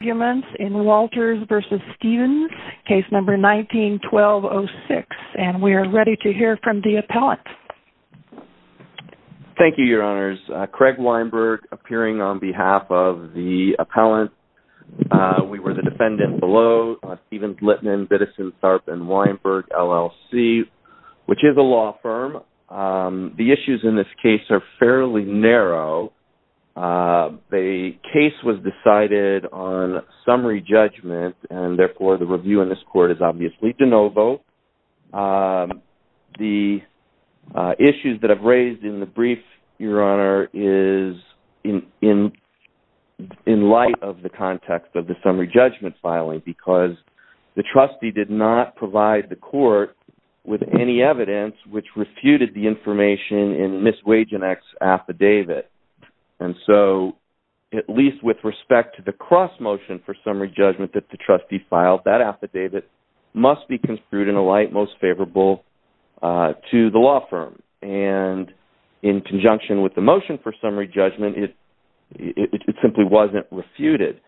arguments in Walters v. Stevens, case number 19-1206. And we are ready to hear from the appellant. Thank you, your honors. Craig Weinberg, appearing on behalf of the appellant. We were the defendant below, Stevens, Littman, Biddison, Tharp, and Weinberg, LLC, which is a law firm. The issues in this case are fairly narrow. The case was decided on summary judgment, and therefore the review in this court is obviously de novo. The issues that I've raised in the brief, your honor, is in light of the context of the summary judgment filing, because the trustee did not provide the information in Ms. Wajanek's affidavit. And so, at least with respect to the cross-motion for summary judgment that the trustee filed, that affidavit must be construed in a light most favorable to the law firm. And in conjunction with the motion for summary judgment, it simply wasn't refuted.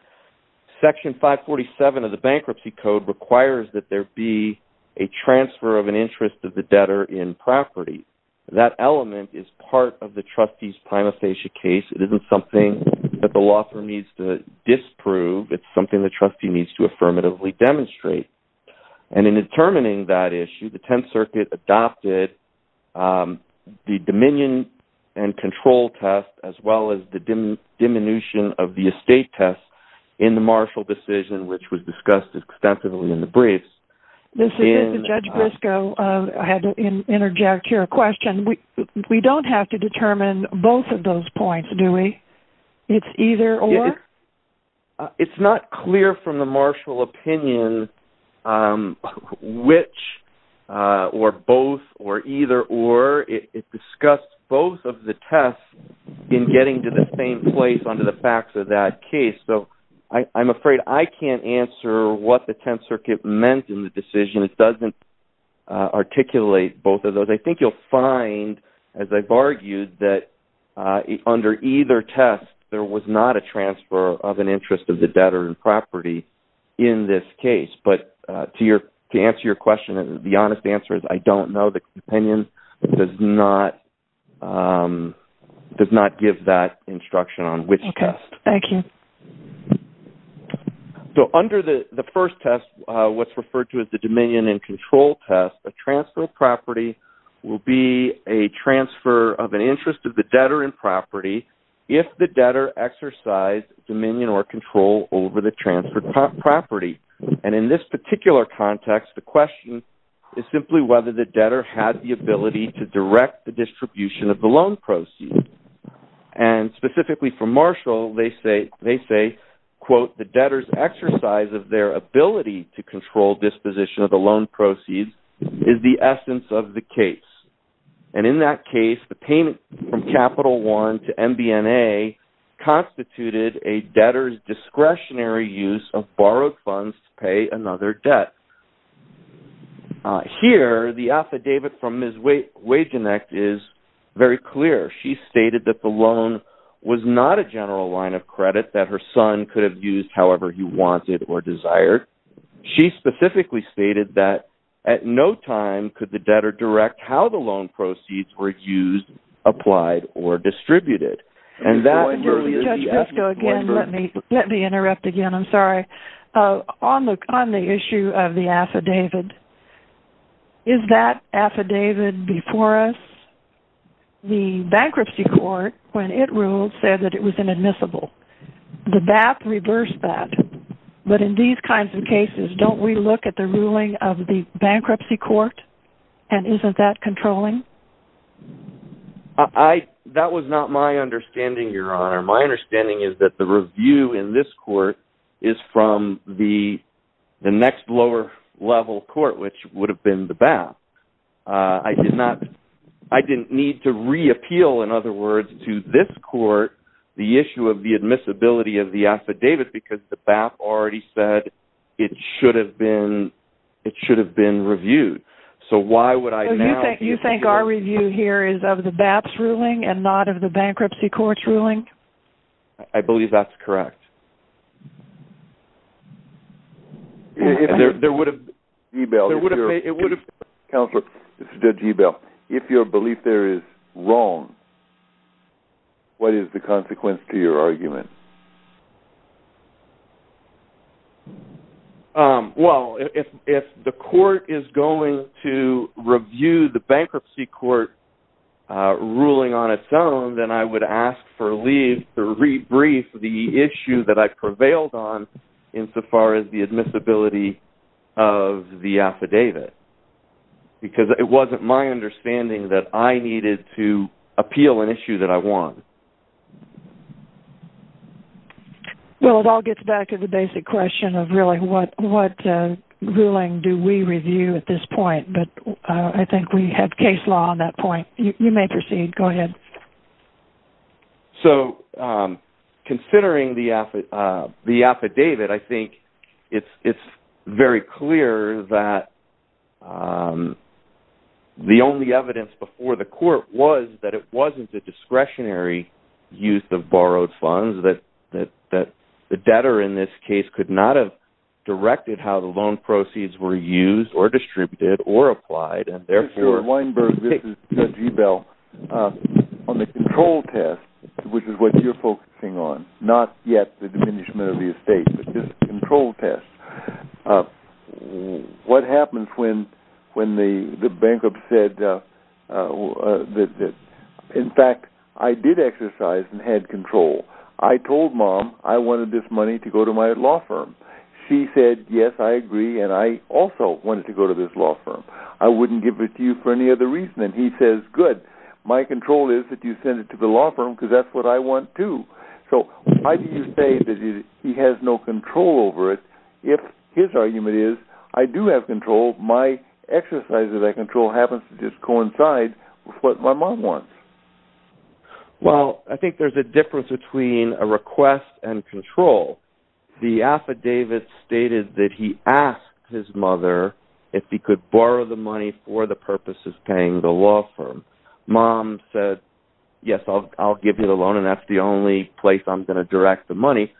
Section 547 of the Bankruptcy Code requires that there be a transfer of an interest of the debtor in property. That element is part of the trustee's prima facie case. It isn't something that the law firm needs to disprove. It's something the trustee needs to affirmatively demonstrate. And in determining that issue, the Tenth Circuit adopted the dominion and control test, as well as the diminution of the estate test, in the Marshall decision, which was discussed extensively in the briefs. Judge Briscoe, I had to interject here a question. We don't have to determine both of those points, do we? It's either or? It's not clear from the Marshall opinion which, or both, or either or. It discussed both of the tests in getting to the same place under the facts of that case. So I'm afraid I can't answer what the Tenth Circuit meant in the decision. It doesn't articulate both of those. I think you'll find, as I've argued, that under either test, there was not a transfer of an interest of the debtor in property in this case. But to answer your question, the opinion does not give that instruction on which test. Okay. Thank you. So under the first test, what's referred to as the dominion and control test, a transfer of property will be a transfer of an interest of the debtor in property if the debtor exercised dominion or control over the transferred property. And in this particular context, the question is simply whether the debtor had the ability to direct the distribution of the loan proceeds. And specifically for Marshall, they say, quote, the debtor's exercise of their ability to control disposition of the loan proceeds is the essence of the case. And in that case, the payment from Capital One to MBNA constituted a debtor's discretionary use of borrowed funds to pay another debt. Here the affidavit from Ms. Wagenknecht is very clear. She stated that the loan was not a general line of credit, that her son could have used however he wanted or desired. She specifically stated that at no time could the debtor direct how the loan proceeds were used, applied, or distributed. And that earlier the affidavit was referred to as the bankruptcy court. Judge Briscoe, again, let me interrupt again. I'm sorry. On the issue of the affidavit, is that affidavit before us? The bankruptcy court, when it ruled, said that it was inadmissible. The BAP reversed that. But in these kinds of cases, don't we look at the ruling of the bankruptcy court and isn't that controlling? That was not my understanding, Your Honor. My understanding is that the review in this court is from the next lower level court, which would have been the BAP. I didn't need to reappeal, in other words, to this court the issue of the admissibility of the affidavit because the BAP already said it should have been reviewed. So why would I now... You think our review here is of the BAP's ruling and not of the bankruptcy court's ruling? I believe that's correct. If your belief there is wrong, what is the consequence to your argument? Well, if the court is going to review the bankruptcy court ruling on its own, then I would ask for leave to rebrief the issue that I prevailed on insofar as the admissibility of the affidavit because it wasn't my understanding that I needed to appeal an issue that I won. Well, it all gets back to the basic question of really what ruling do we review at this point, but I think we have case law on that point. You may proceed. Go ahead. Considering the affidavit, I think it's very clear that the only evidence before the court was that it wasn't a discretionary use of borrowed funds, that the debtor in this case could not have directed how the loan proceeds were used or distributed or applied, and therefore... Mr. Weinberg, this is Judge Ebel. On the control test, which is what you're focusing on, not yet the diminishment of the estate, but this control test, what happens when the bankrupt said that, in fact, I did exercise and had control? I told mom I wanted this money to go to my law firm. She said, yes, I agree, and I also wanted to go to this law firm. I wouldn't give it to you for any other reason, and he says, good. My control is that you send it to the law firm because that's what I want, too. So why do you say that he has no control over it if his argument is, I do have control, my exercise that I control happens to just coincide with what my mom wants? Well, I think there's a difference between a request and control. The affidavit stated that he asked his mother if he could borrow the money for the purposes of paying the law firm. Mom said, yes, I'll give you the loan, and that's the only place I'm going to direct the money.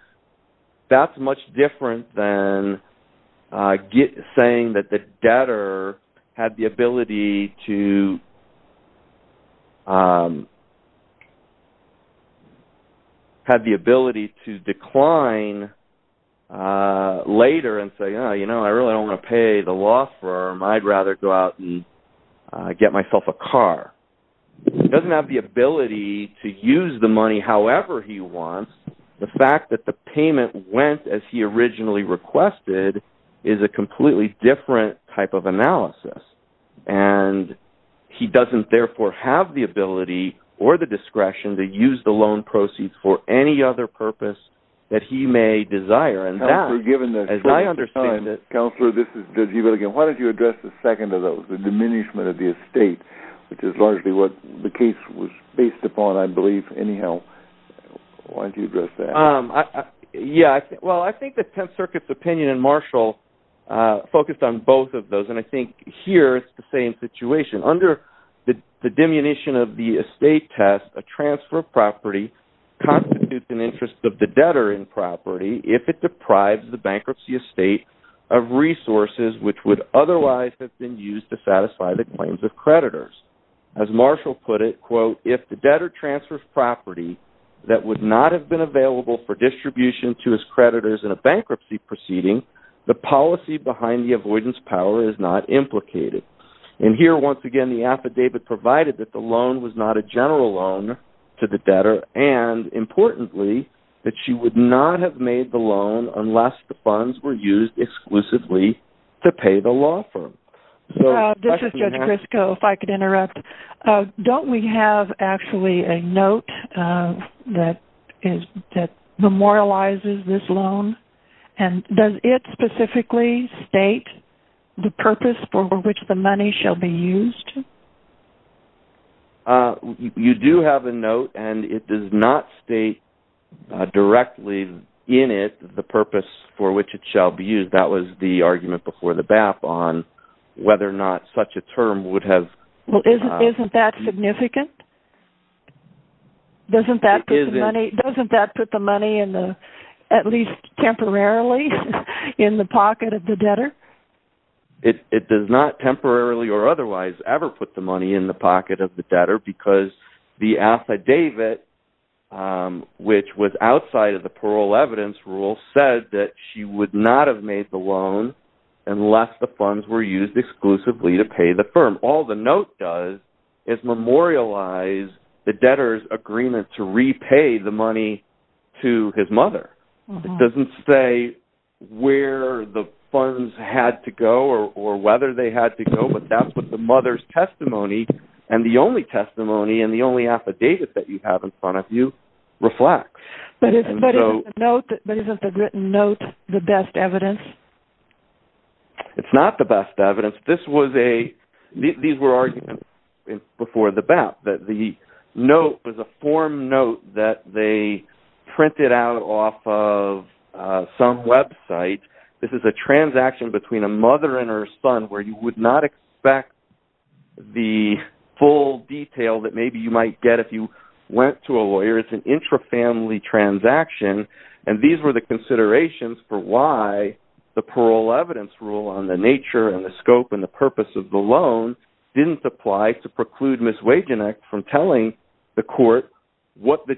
That's much different than saying that the debtor had the ability to decline later and say, I really don't want to pay the law firm. I'd rather go out and get myself a car. He doesn't have the ability to use the money however he wants. The fact that the payment went as he originally requested is a completely different type of analysis. He doesn't, therefore, have the ability or the discretion to use the loan proceeds for any other purpose that he may desire, and that, as I understand it- Counselor, this is David again. Why don't you address the second of those, the diminishment of the estate, which is largely what the case was based upon, I believe. Anyhow, why don't you address that? Well, I think the Tenth Circuit's opinion in Marshall focused on both of those, and I think here it's the same situation. Under the diminution of the estate test, a transfer of property constitutes an interest of the debtor in property if it deprives the bankruptcy estate of resources which would otherwise have been used to satisfy the claims of creditors. As Marshall put it, quote, if the debtor transfers property that would not have been available for distribution to his creditors in a bankruptcy proceeding, the policy behind the avoidance power is not implicated. And here, once again, the affidavit provided that the loan was not a general loan to the debtor and, importantly, that she would not have made the loan unless the funds were used exclusively to pay the law firm. This is Judge Crisco, if I could interrupt. Don't we have actually a note that memorializes this loan? And does it specifically state the purpose for which the money shall be used? You do have a note, and it does not state directly in it the purpose for which it shall be used. That was the argument before the BAP on whether or not such a term would have... Well, isn't that significant? Doesn't that put the money in the, at least temporarily, in the pocket of the debtor? It does not temporarily or otherwise ever put the money in the pocket of the debtor because the affidavit, which was outside of the parole evidence rule, said that she would not have made the loan unless the funds were used exclusively to pay the firm. All the note does is memorialize the debtor's agreement to repay the money to his mother. It doesn't say where the funds had to go or whether they had to go, but that's what the mother's testimony and the only testimony and the only affidavit that you have in front of you reflects. But isn't the note, the written note, the best evidence? It's not the best evidence. This was a... These were arguments before the BAP that the note was a form note that they printed out off of some website. This is a transaction between a mother and her son where you would not expect the full detail that maybe you might get if you went to a lawyer. It's an intra-family transaction and these were the considerations for why the parole evidence rule on the nature and the scope and the purpose of the loan didn't apply to preclude Ms. Wagenknecht from telling the court what the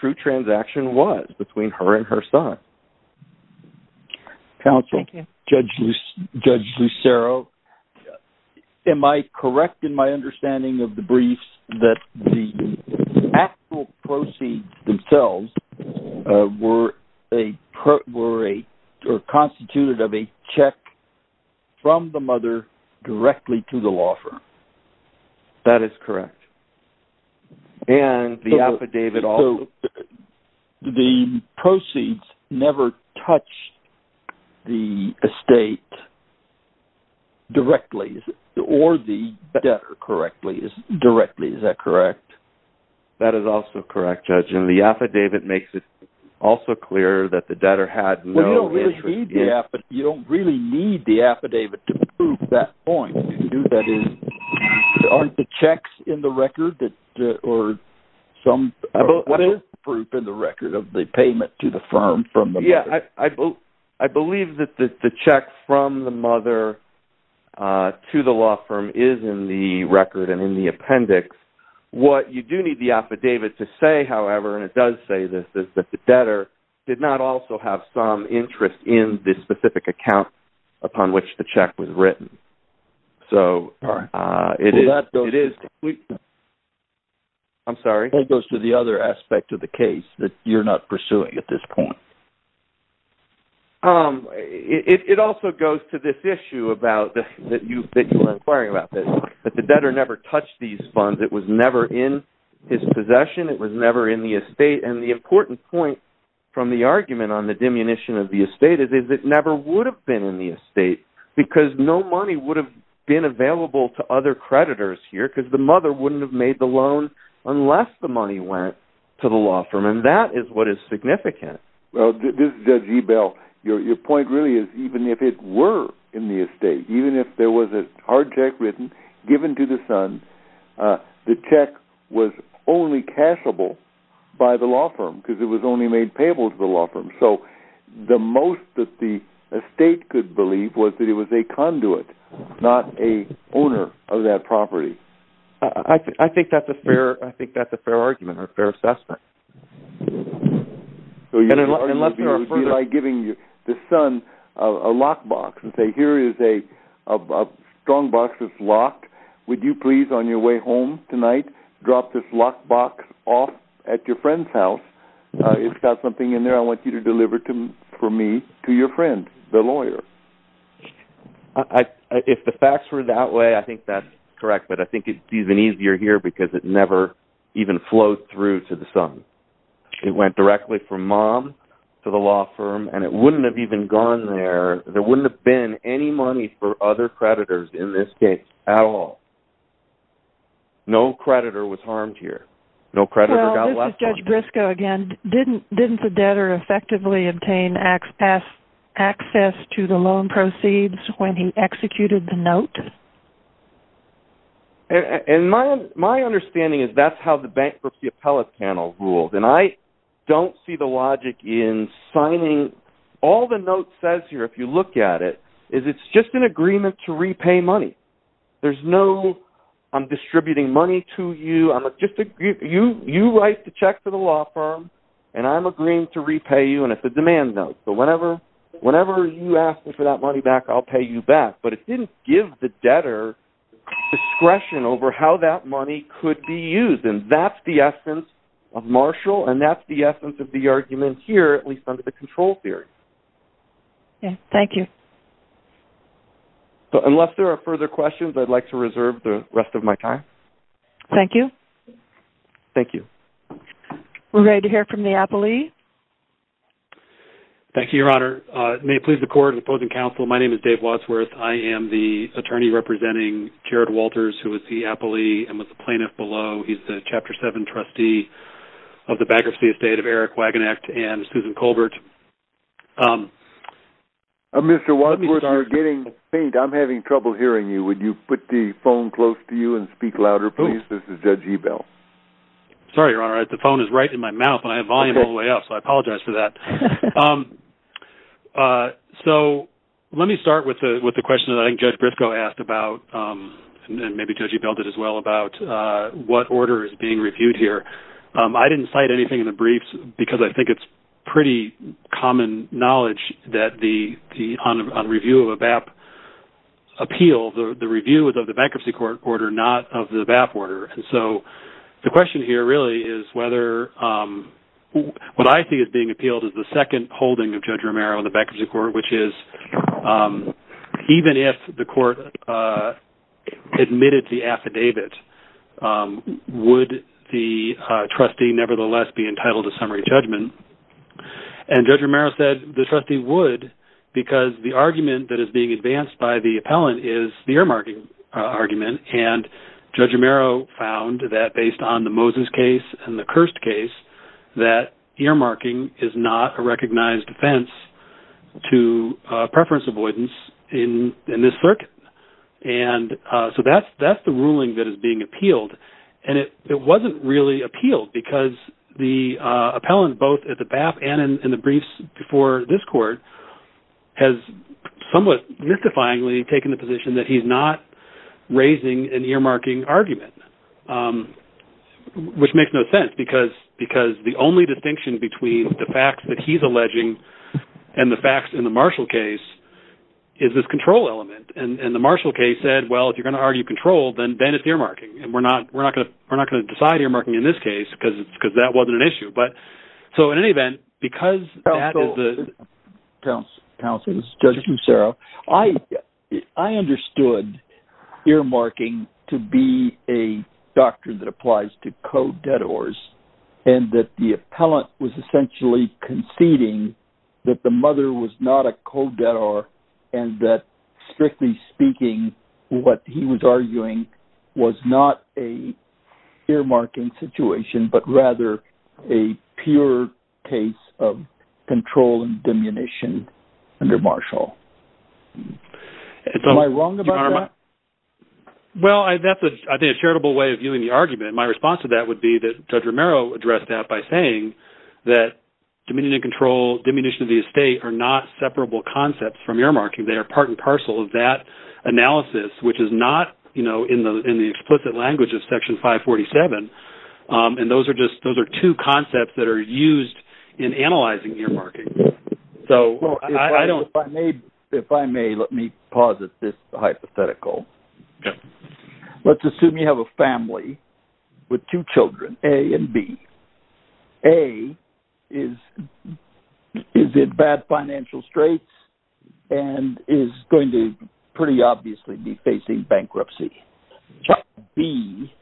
true transaction was between her and her son. Counsel, Judge Lucero, am I correct in my understanding of the briefs that the actual proceeds themselves were constituted of a check from the mother directly to the law officer? That is correct. And the affidavit also... The proceeds never touched the estate directly, or the debtor directly, is that correct? That is also correct, Judge. And the affidavit makes it also clear that the debtor had no interest in... You don't really need the affidavit to prove that point, do you? That is, aren't the checks in the record or some proof in the record of the payment to the firm from the mother? I believe that the check from the mother to the law firm is in the record and in the appendix. What you do need the affidavit to say, however, and it does say this, is that the debtor did not also have some interest in this specific account upon which the check was written. That goes to the other aspect of the case that you're not pursuing at this point. It also goes to this issue that you're inquiring about, that the debtor never touched these funds. It was never in his possession. It was never in the estate. And the important point from the argument on the diminution of the estate is that it never would have been in the estate, because no money would have been available to other creditors here, because the mother wouldn't have made the loan unless the money went to the law firm. And that is what is significant. Well, Judge Ebell, your point really is, even if it were in the estate, even if there was a hard check written, given to the son, the check was only cashable by the law firm, because it was only made payable to the law firm. So the most that the estate could believe was that it was a conduit, not a owner of that property. I think that's a fair argument, or a fair assessment. So your argument would be by giving the son a lockbox, and say, here is a strongbox that's locked. Would you please, on your way home tonight, drop this lockbox off at your friend's house? It's got something in there I want you to deliver for me, to your friend, the lawyer. If the facts were that way, I think that's correct. But I think it's even easier here, because it never even flowed through to the son. It went directly from mom to the law firm, and it wouldn't have even gone there. There wouldn't have been any money for other creditors in this case, at all. No creditor was harmed here. No creditor got left behind. Judge Briscoe, again, didn't the debtor effectively obtain access to the loan proceeds when he executed the note? My understanding is that's how the bankruptcy appellate panel ruled. And I don't see the logic in signing. All the note says here, if you look at it, is it's just an agreement to repay money. There's no, I'm distributing money to you. You write the check to the law firm, and I'm agreeing to repay you, and it's a demand note. So whenever you ask me for that money back, I'll pay you back. But it didn't give the debtor discretion over how that money could be used. And that's the essence of Marshall, and that's the essence of the argument here, at least under the control theory. Thank you. So, unless there are further questions, I'd like to reserve the rest of my time. Thank you. Thank you. We're ready to hear from the appellee. Thank you, Your Honor. May it please the Court and the opposing counsel, my name is Dave Wadsworth. I am the attorney representing Jared Walters, who is the appellee and was the plaintiff below. He's the Chapter 7 trustee of the Bankruptcy Estate of Eric Wagenknecht and Susan Colbert. Mr. Wadsworth, you're getting faint. I'm having trouble hearing you. Would you put the phone close to you and speak louder, please? This is Judge Ebell. Sorry, Your Honor. The phone is right in my mouth, and I have volume all the way up, so I apologize for that. So, let me start with the question that I think Judge Briscoe asked about, and maybe Judge Ebell did as well, about what order is being reviewed here. I didn't cite anything in the briefs because I think it's pretty common knowledge that on review of a BAP appeal, the review is of the Bankruptcy Court order, not of the BAP order. So, the question here really is whether what I see as being appealed is the second holding of Judge Romero in the Bankruptcy Court, which is even if the court admitted the affidavit, would the court be entitled to summary judgment? And Judge Romero said the trustee would because the argument that is being advanced by the appellant is the earmarking argument, and Judge Romero found that based on the Moses case and the Kirst case, that earmarking is not a recognized offense to preference avoidance in this circuit. And so, that's the ruling that is being appealed, and it wasn't really appealed because the appellant both at the BAP and in the briefs before this court has somewhat mystifyingly taken the position that he's not raising an earmarking argument, which makes no sense because the only distinction between the facts that he's alleging and the facts in the Marshall case is this control element, and the Marshall case said, well, if you're going to argue control, then it's earmarking, and we're not going to decide earmarking in this case because that wasn't an issue. So, in any event, because that is the... Judge Mucero, I understood earmarking to be a doctrine that applies to co-debtors and that the appellant was essentially conceding that the mother was not a co-debtor and that strictly speaking, what he was arguing was not a earmarking situation, but rather a pure case of control and diminution under Marshall. Am I wrong about that? Well, that's, I think, a charitable way of viewing the argument, and my response to that would be that Judge Romero addressed that by saying that diminution of control, diminution of the estate are not separable concepts from earmarking. They are part and parcel of that analysis, which is not in the explicit language of Section 547, and those are two concepts that are used in analyzing earmarking. If I may, let me posit this hypothetical. Let's assume you have a family with two children, A and B. A is in bad financial straits and is going to pretty obviously be facing bankruptcy. Child B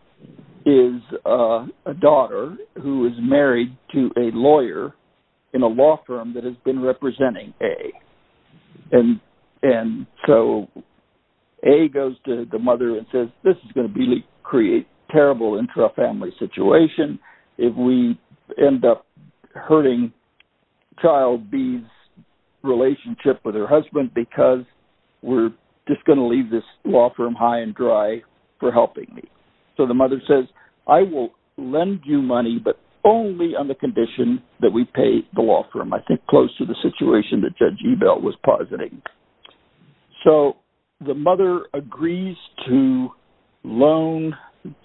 is a daughter who is married to a lawyer in a law firm that has been representing A, and so A goes to the mother and says, this is going to create terrible intra-family situation if we end up hurting child B's relationship with her husband because we're just going to leave this law firm high and dry for helping me. So the mother says, I will lend you money, but only on the condition that we pay the law firm. I think close to the situation that Judge Ebel was positing. So the mother agrees to loan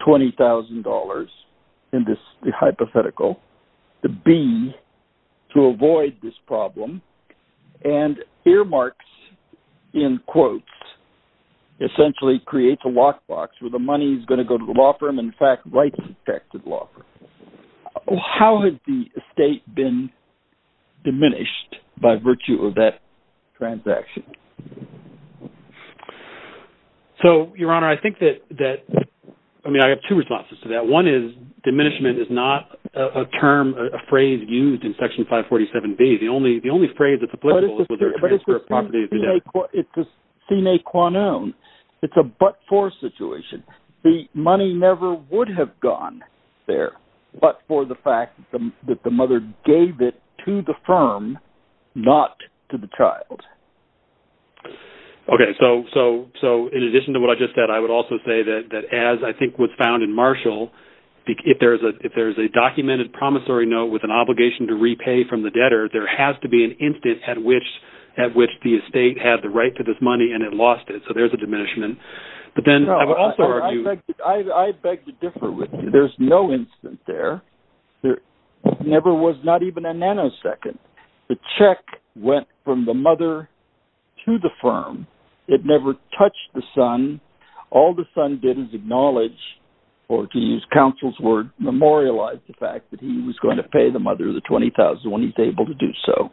$20,000 in this hypothetical to B to avoid this problem and earmarks, in quotes, essentially creates a lockbox where the money is going to go to the law firm, in fact, rights affected law firm. How has the estate been diminished by virtue of that transaction? So, Your Honor, I think that, I mean, I have two responses to that. One is, diminishment is not a term, a phrase used in Section 547B. The only phrase that's applicable is whether a transfer of property is deducted. But it's a sine qua non. It's a but-for situation. The money never would have gone there but for the fact that the mother gave it to the firm, not to the child. Okay, so in addition to what I just said, I would also say that as I think was found in Marshall, if there's a documented promissory note with an obligation to repay from the debtor, there has to be an instance at which the estate had the right to this money and it lost it. So there's a diminishment. I beg to differ with you. There's no instance there. There never was not even a nanosecond. The check went from the mother to the firm. It never touched the son. All the son did was acknowledge, or to use counsel's word, memorialize the fact that he was going to pay the mother the $20,000 when he's able to do so.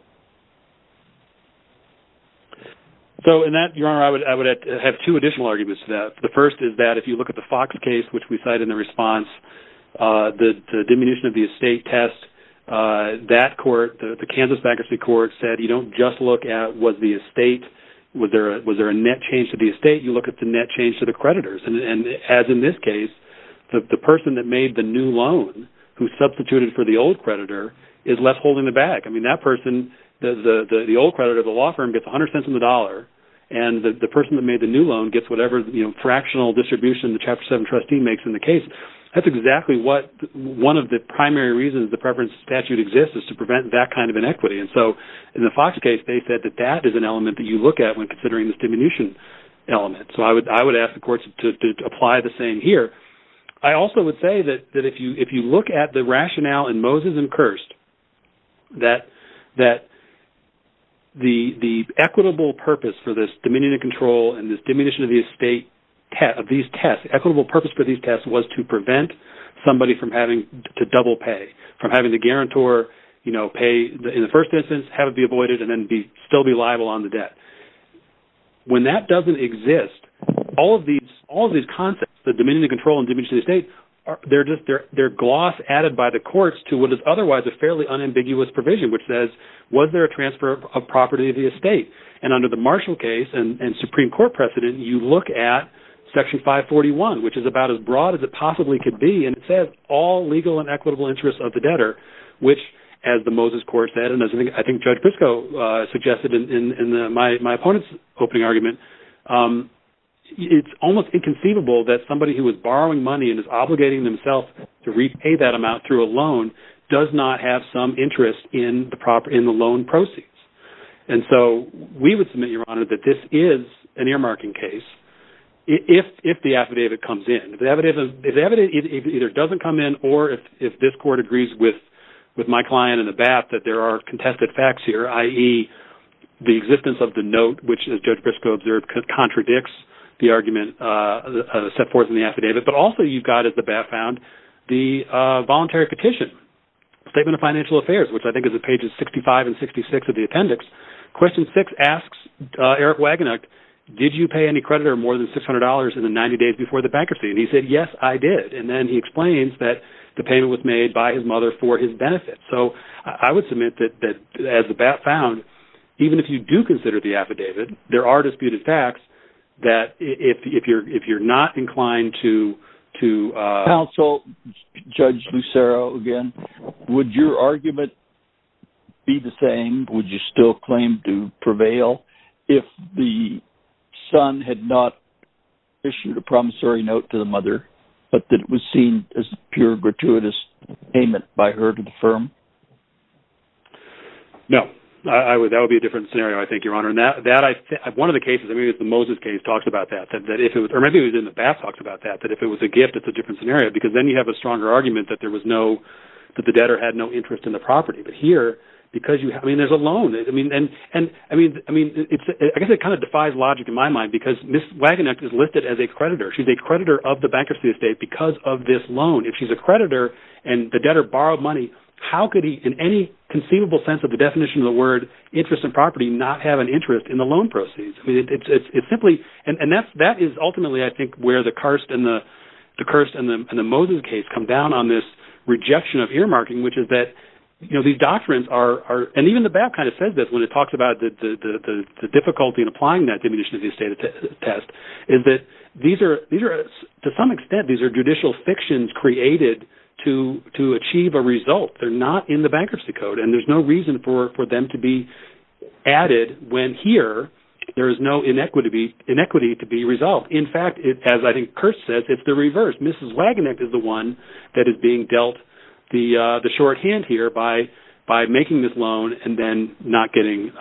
So in that, Your Honor, I would have two additional arguments to that. The first is that if you look at the Fox case, which we cited in the response, the diminution of the estate test, that court, the Kansas bankruptcy court, said you don't just look at was there a net change to the estate, you look at the net change to the creditors. And as in this case, the person that made the new loan who substituted for the old creditor is left holding the bag. I mean, that person, the old creditor of the law firm gets 100 cents on the dollar and the person that made the new loan gets whatever fractional distribution the Chapter 7 trustee makes in the case. That's exactly what one of the primary reasons the preference statute exists is to prevent that kind of inequity. And so in the Fox case, they said that that is an element that you look at when considering this diminution element. So I would ask the courts to apply the same here. I also would say that if you look at the rationale in Moses and Kirst, that the equitable purpose for this diminution of control and this diminution of these tests, equitable purpose for these tests was to prevent somebody from having to double pay, from having to guarantor pay in the first instance, have it be avoided, and then still be liable on the debt. When that doesn't exist, all of these concepts, the diminution of control and diminution of the estate, they're gloss added by the courts to what is otherwise a fairly unambiguous provision, which says, was there a transfer of property of the estate? And under the Marshall case and Supreme Court precedent, you look at Section 541, which is about as broad as it possibly could be. And it says, all legal and equitable interests of the debtor, which as the Moses court said, and I think Judge Pisco suggested in my opponent's opening argument, it's almost inconceivable that somebody who was borrowing money and is obligating themselves to repay that amount through a loan does not have some interest in the loan proceeds. And so we would submit, Your Honor, that this is an earmarking case if the affidavit comes in. If the affidavit either doesn't come in, or if this court agrees with my client and the BAT that there are contested facts here, i.e. the existence of the note, which Judge Pisco observed contradicts the argument set forth in the affidavit, but also you've got, as the BAT found, the voluntary petition, Statement of Financial Affairs, which I think is at pages 65 and 66 of the appendix. Question six asks Eric Wagenknecht, did you pay any interest in bankruptcy? And he said, yes, I did. And then he explains that the payment was made by his mother for his benefit. So I would submit that as the BAT found, even if you do consider the affidavit, there are disputed facts that if you're not inclined to counsel Judge Lucero again, would your argument be the same? Would you still claim to prevail if the son had not issued a promissory note to the mother, but that it was seen as pure gratuitous payment by her to the firm? No. That would be a different scenario, I think, Your Honor. One of the cases, the Moses case, talks about that. Or maybe it was in the BAT talks about that, that if it was a gift, it's a different scenario, because then you have a stronger argument that the debtor had no interest in the property. But here, I mean, there's a loan. And I mean, I guess it kind of defies logic in my mind, because Ms. Wagenknecht is listed as a creditor. She's a creditor of the bankruptcy estate because of this loan. If she's a creditor, and the debtor borrowed money, how could he, in any conceivable sense of the definition of the word, interest in property, not have an interest in the loan proceeds? I mean, it's simply, and that is ultimately, I think, where the Kirst and the Moses case come down on this rejection of earmarking, which is that these doctrines are, and even the BAT kind of says this when it talks about the difficulty in applying that diminution of use test, is that these are, to some extent, these are judicial fictions created to achieve a result. They're not in the bankruptcy code, and there's no reason for them to be added when here, there is no inequity to be resolved. In fact, as I think Kirst says, it's the reverse. Mrs. Wagenknecht is the one that is being dealt the shorthand here by making this loan and then not getting,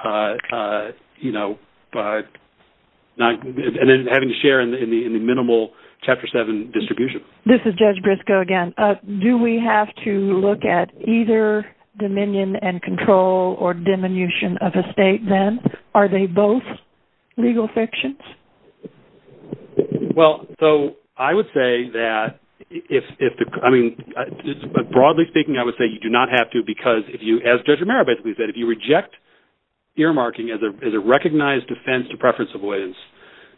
you know, and then having to share in the minimal Chapter 7 distribution. This is Judge Briscoe again. Do we have to look at either dominion and control or diminution of estate then? Are they both legal fictions? Well, so I would say that if the, I mean, broadly speaking, I would say you do not have to because if you, as Judge Romero basically said, if you reject earmarking as a recognized offense to preference avoidance,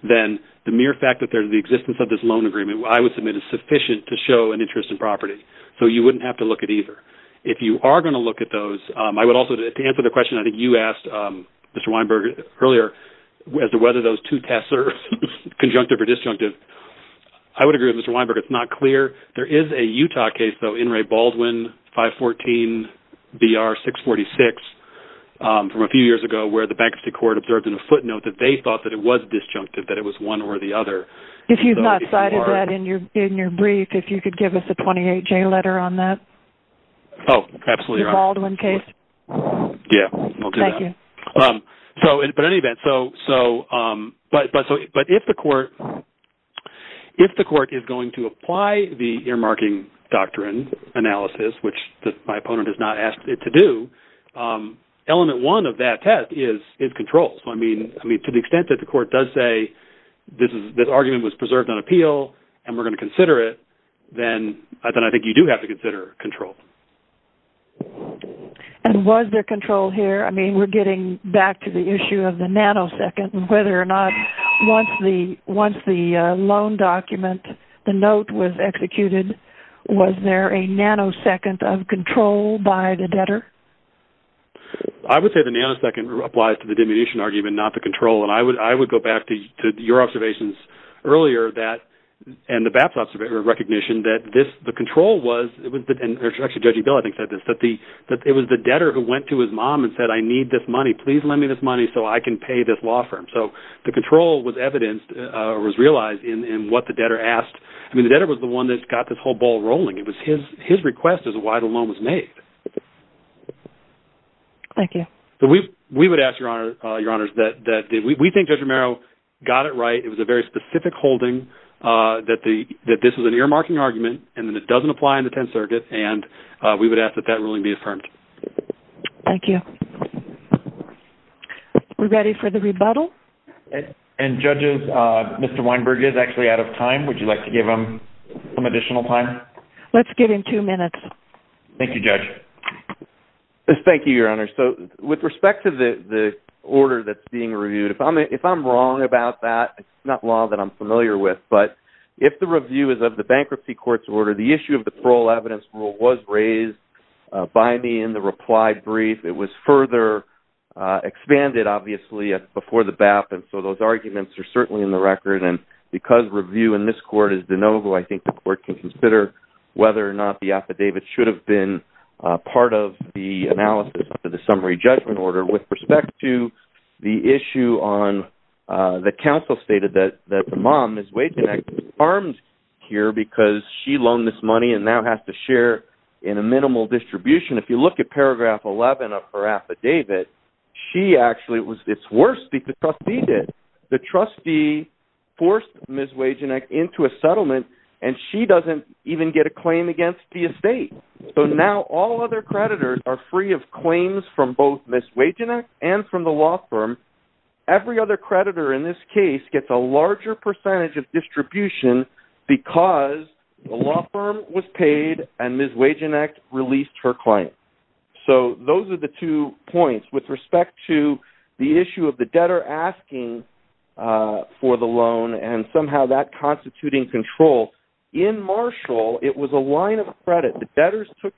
then the mere fact that there's the existence of this loan agreement, I would submit, is sufficient to show an interest in property. So you wouldn't have to look at either. If you are going to look at those, I would also, to answer the question, Tessar, conjunctive or disjunctive, I would agree with Mr. Weinberg, it's not clear. There is a Utah case, though, in Ray Baldwin 514BR646 from a few years ago where the Bank of State Court observed in a footnote that they thought that it was disjunctive, that it was one or the other. If you've not cited that in your brief, if you could give us a 28-J letter on that. Oh, absolutely. The Baldwin case. Yeah, we'll do that. But in any event, if the court is going to apply the earmarking doctrine analysis, which my opponent has not asked it to do, element one of that test is control. I mean, to the extent that the court does say this argument was preserved on appeal and we're going to consider it, then I think you do have to consider control. And was there control here? I mean, we're getting back to the issue of the nanosecond and whether or not once the loan document, the note was executed, was there a nanosecond of control by the debtor? I would say the nanosecond applies to the diminution argument, not the control, and I would go back to your observations earlier that, and the BAPS observation or recognition, that the control was, and actually Judge E. Bell I think said this, that it was the debtor who went to his mom and said, I need this money. Please lend me this money so I can pay this law firm. So the control was evidenced or was realized in what the debtor asked. I mean, the debtor was the one that got this whole ball rolling. It was his request as to why the loan was made. Thank you. We would ask, Your Honors, that we think Judge Romero got it right. It was a very specific holding that this was an earmarking argument and that it doesn't apply in the Tenth Circuit, and we would ask that that ruling be affirmed. Thank you. We're ready for the rebuttal. And judges, Mr. Weinberg is actually out of time. Would you like to give him some additional time? Let's give him two minutes. Thank you, Judge. Thank you, Your Honors. So with respect to the order that's being reviewed, if I'm wrong about that, it's not law that I'm familiar with, but if the review is of the bankruptcy court's order, the issue of the parole evidence rule was raised by me in the reply brief. It was further expanded, obviously, before the BAP. And so those arguments are certainly in the record. And because review in this court is de novo, I think the court can consider whether or not the affidavit should have been part of the analysis of the summary judgment order. With respect to the issue on the counsel stated that the mom, Ms. Wagenknecht, was harmed here because she loaned this money and now has to share in a minimal distribution. If you look at paragraph 11 of her affidavit, she actually, it's worse than the trustee did. The trustee forced Ms. Wagenknecht into a settlement, and she doesn't even get a claim against the estate. So now all other creditors are free of claims from both Ms. Wagenknecht and from the law firm. Every other creditor in this case gets a larger percentage of distribution because the law firm was paid and Ms. Wagenknecht released her claim. So those are the two points. With respect to the issue of the debtor asking for the loan and somehow that constituting control, in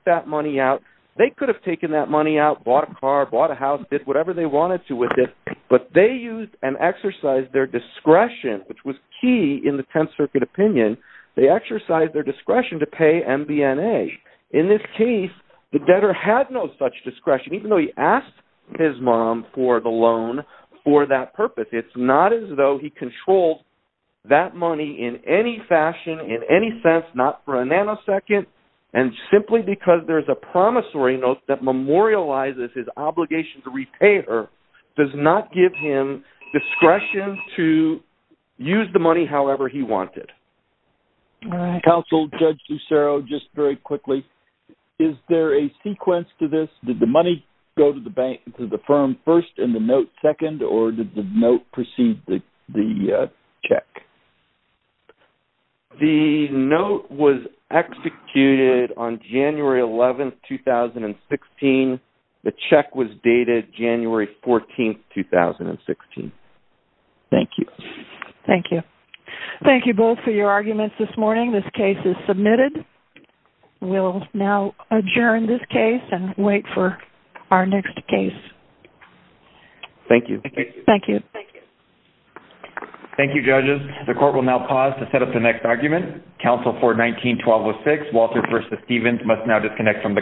fact, they could have taken that money out, bought a car, bought a house, did whatever they wanted to with it, but they used and exercised their discretion, which was key in the Tenth Circuit opinion. They exercised their discretion to pay MBNA. In this case, the debtor had no such discretion, even though he asked his mom for the loan for that purpose. It's not as though he controlled that money in any fashion, in any sense, not for a nanosecond, and simply because there's a promissory note that memorializes his obligation to repay her does not give him discretion to use the money however he wanted. Counsel, Judge Lucero, just very quickly, is there a sequence to this? Did the money go to the bank, to the firm first and the note second, or did the note precede the check? The note was executed on January 11, 2016. The check was dated January 14, 2016. Thank you. Thank you. Thank you both for your arguments this morning. This case is submitted. We'll now adjourn this case and wait for our next case. Thank you. Thank you. Thank you. Thank you. Thank you, judges. The court will now pause to set up the next argument. Counsel for 19-1206, Walter v. Stevens, must now disconnect from the call.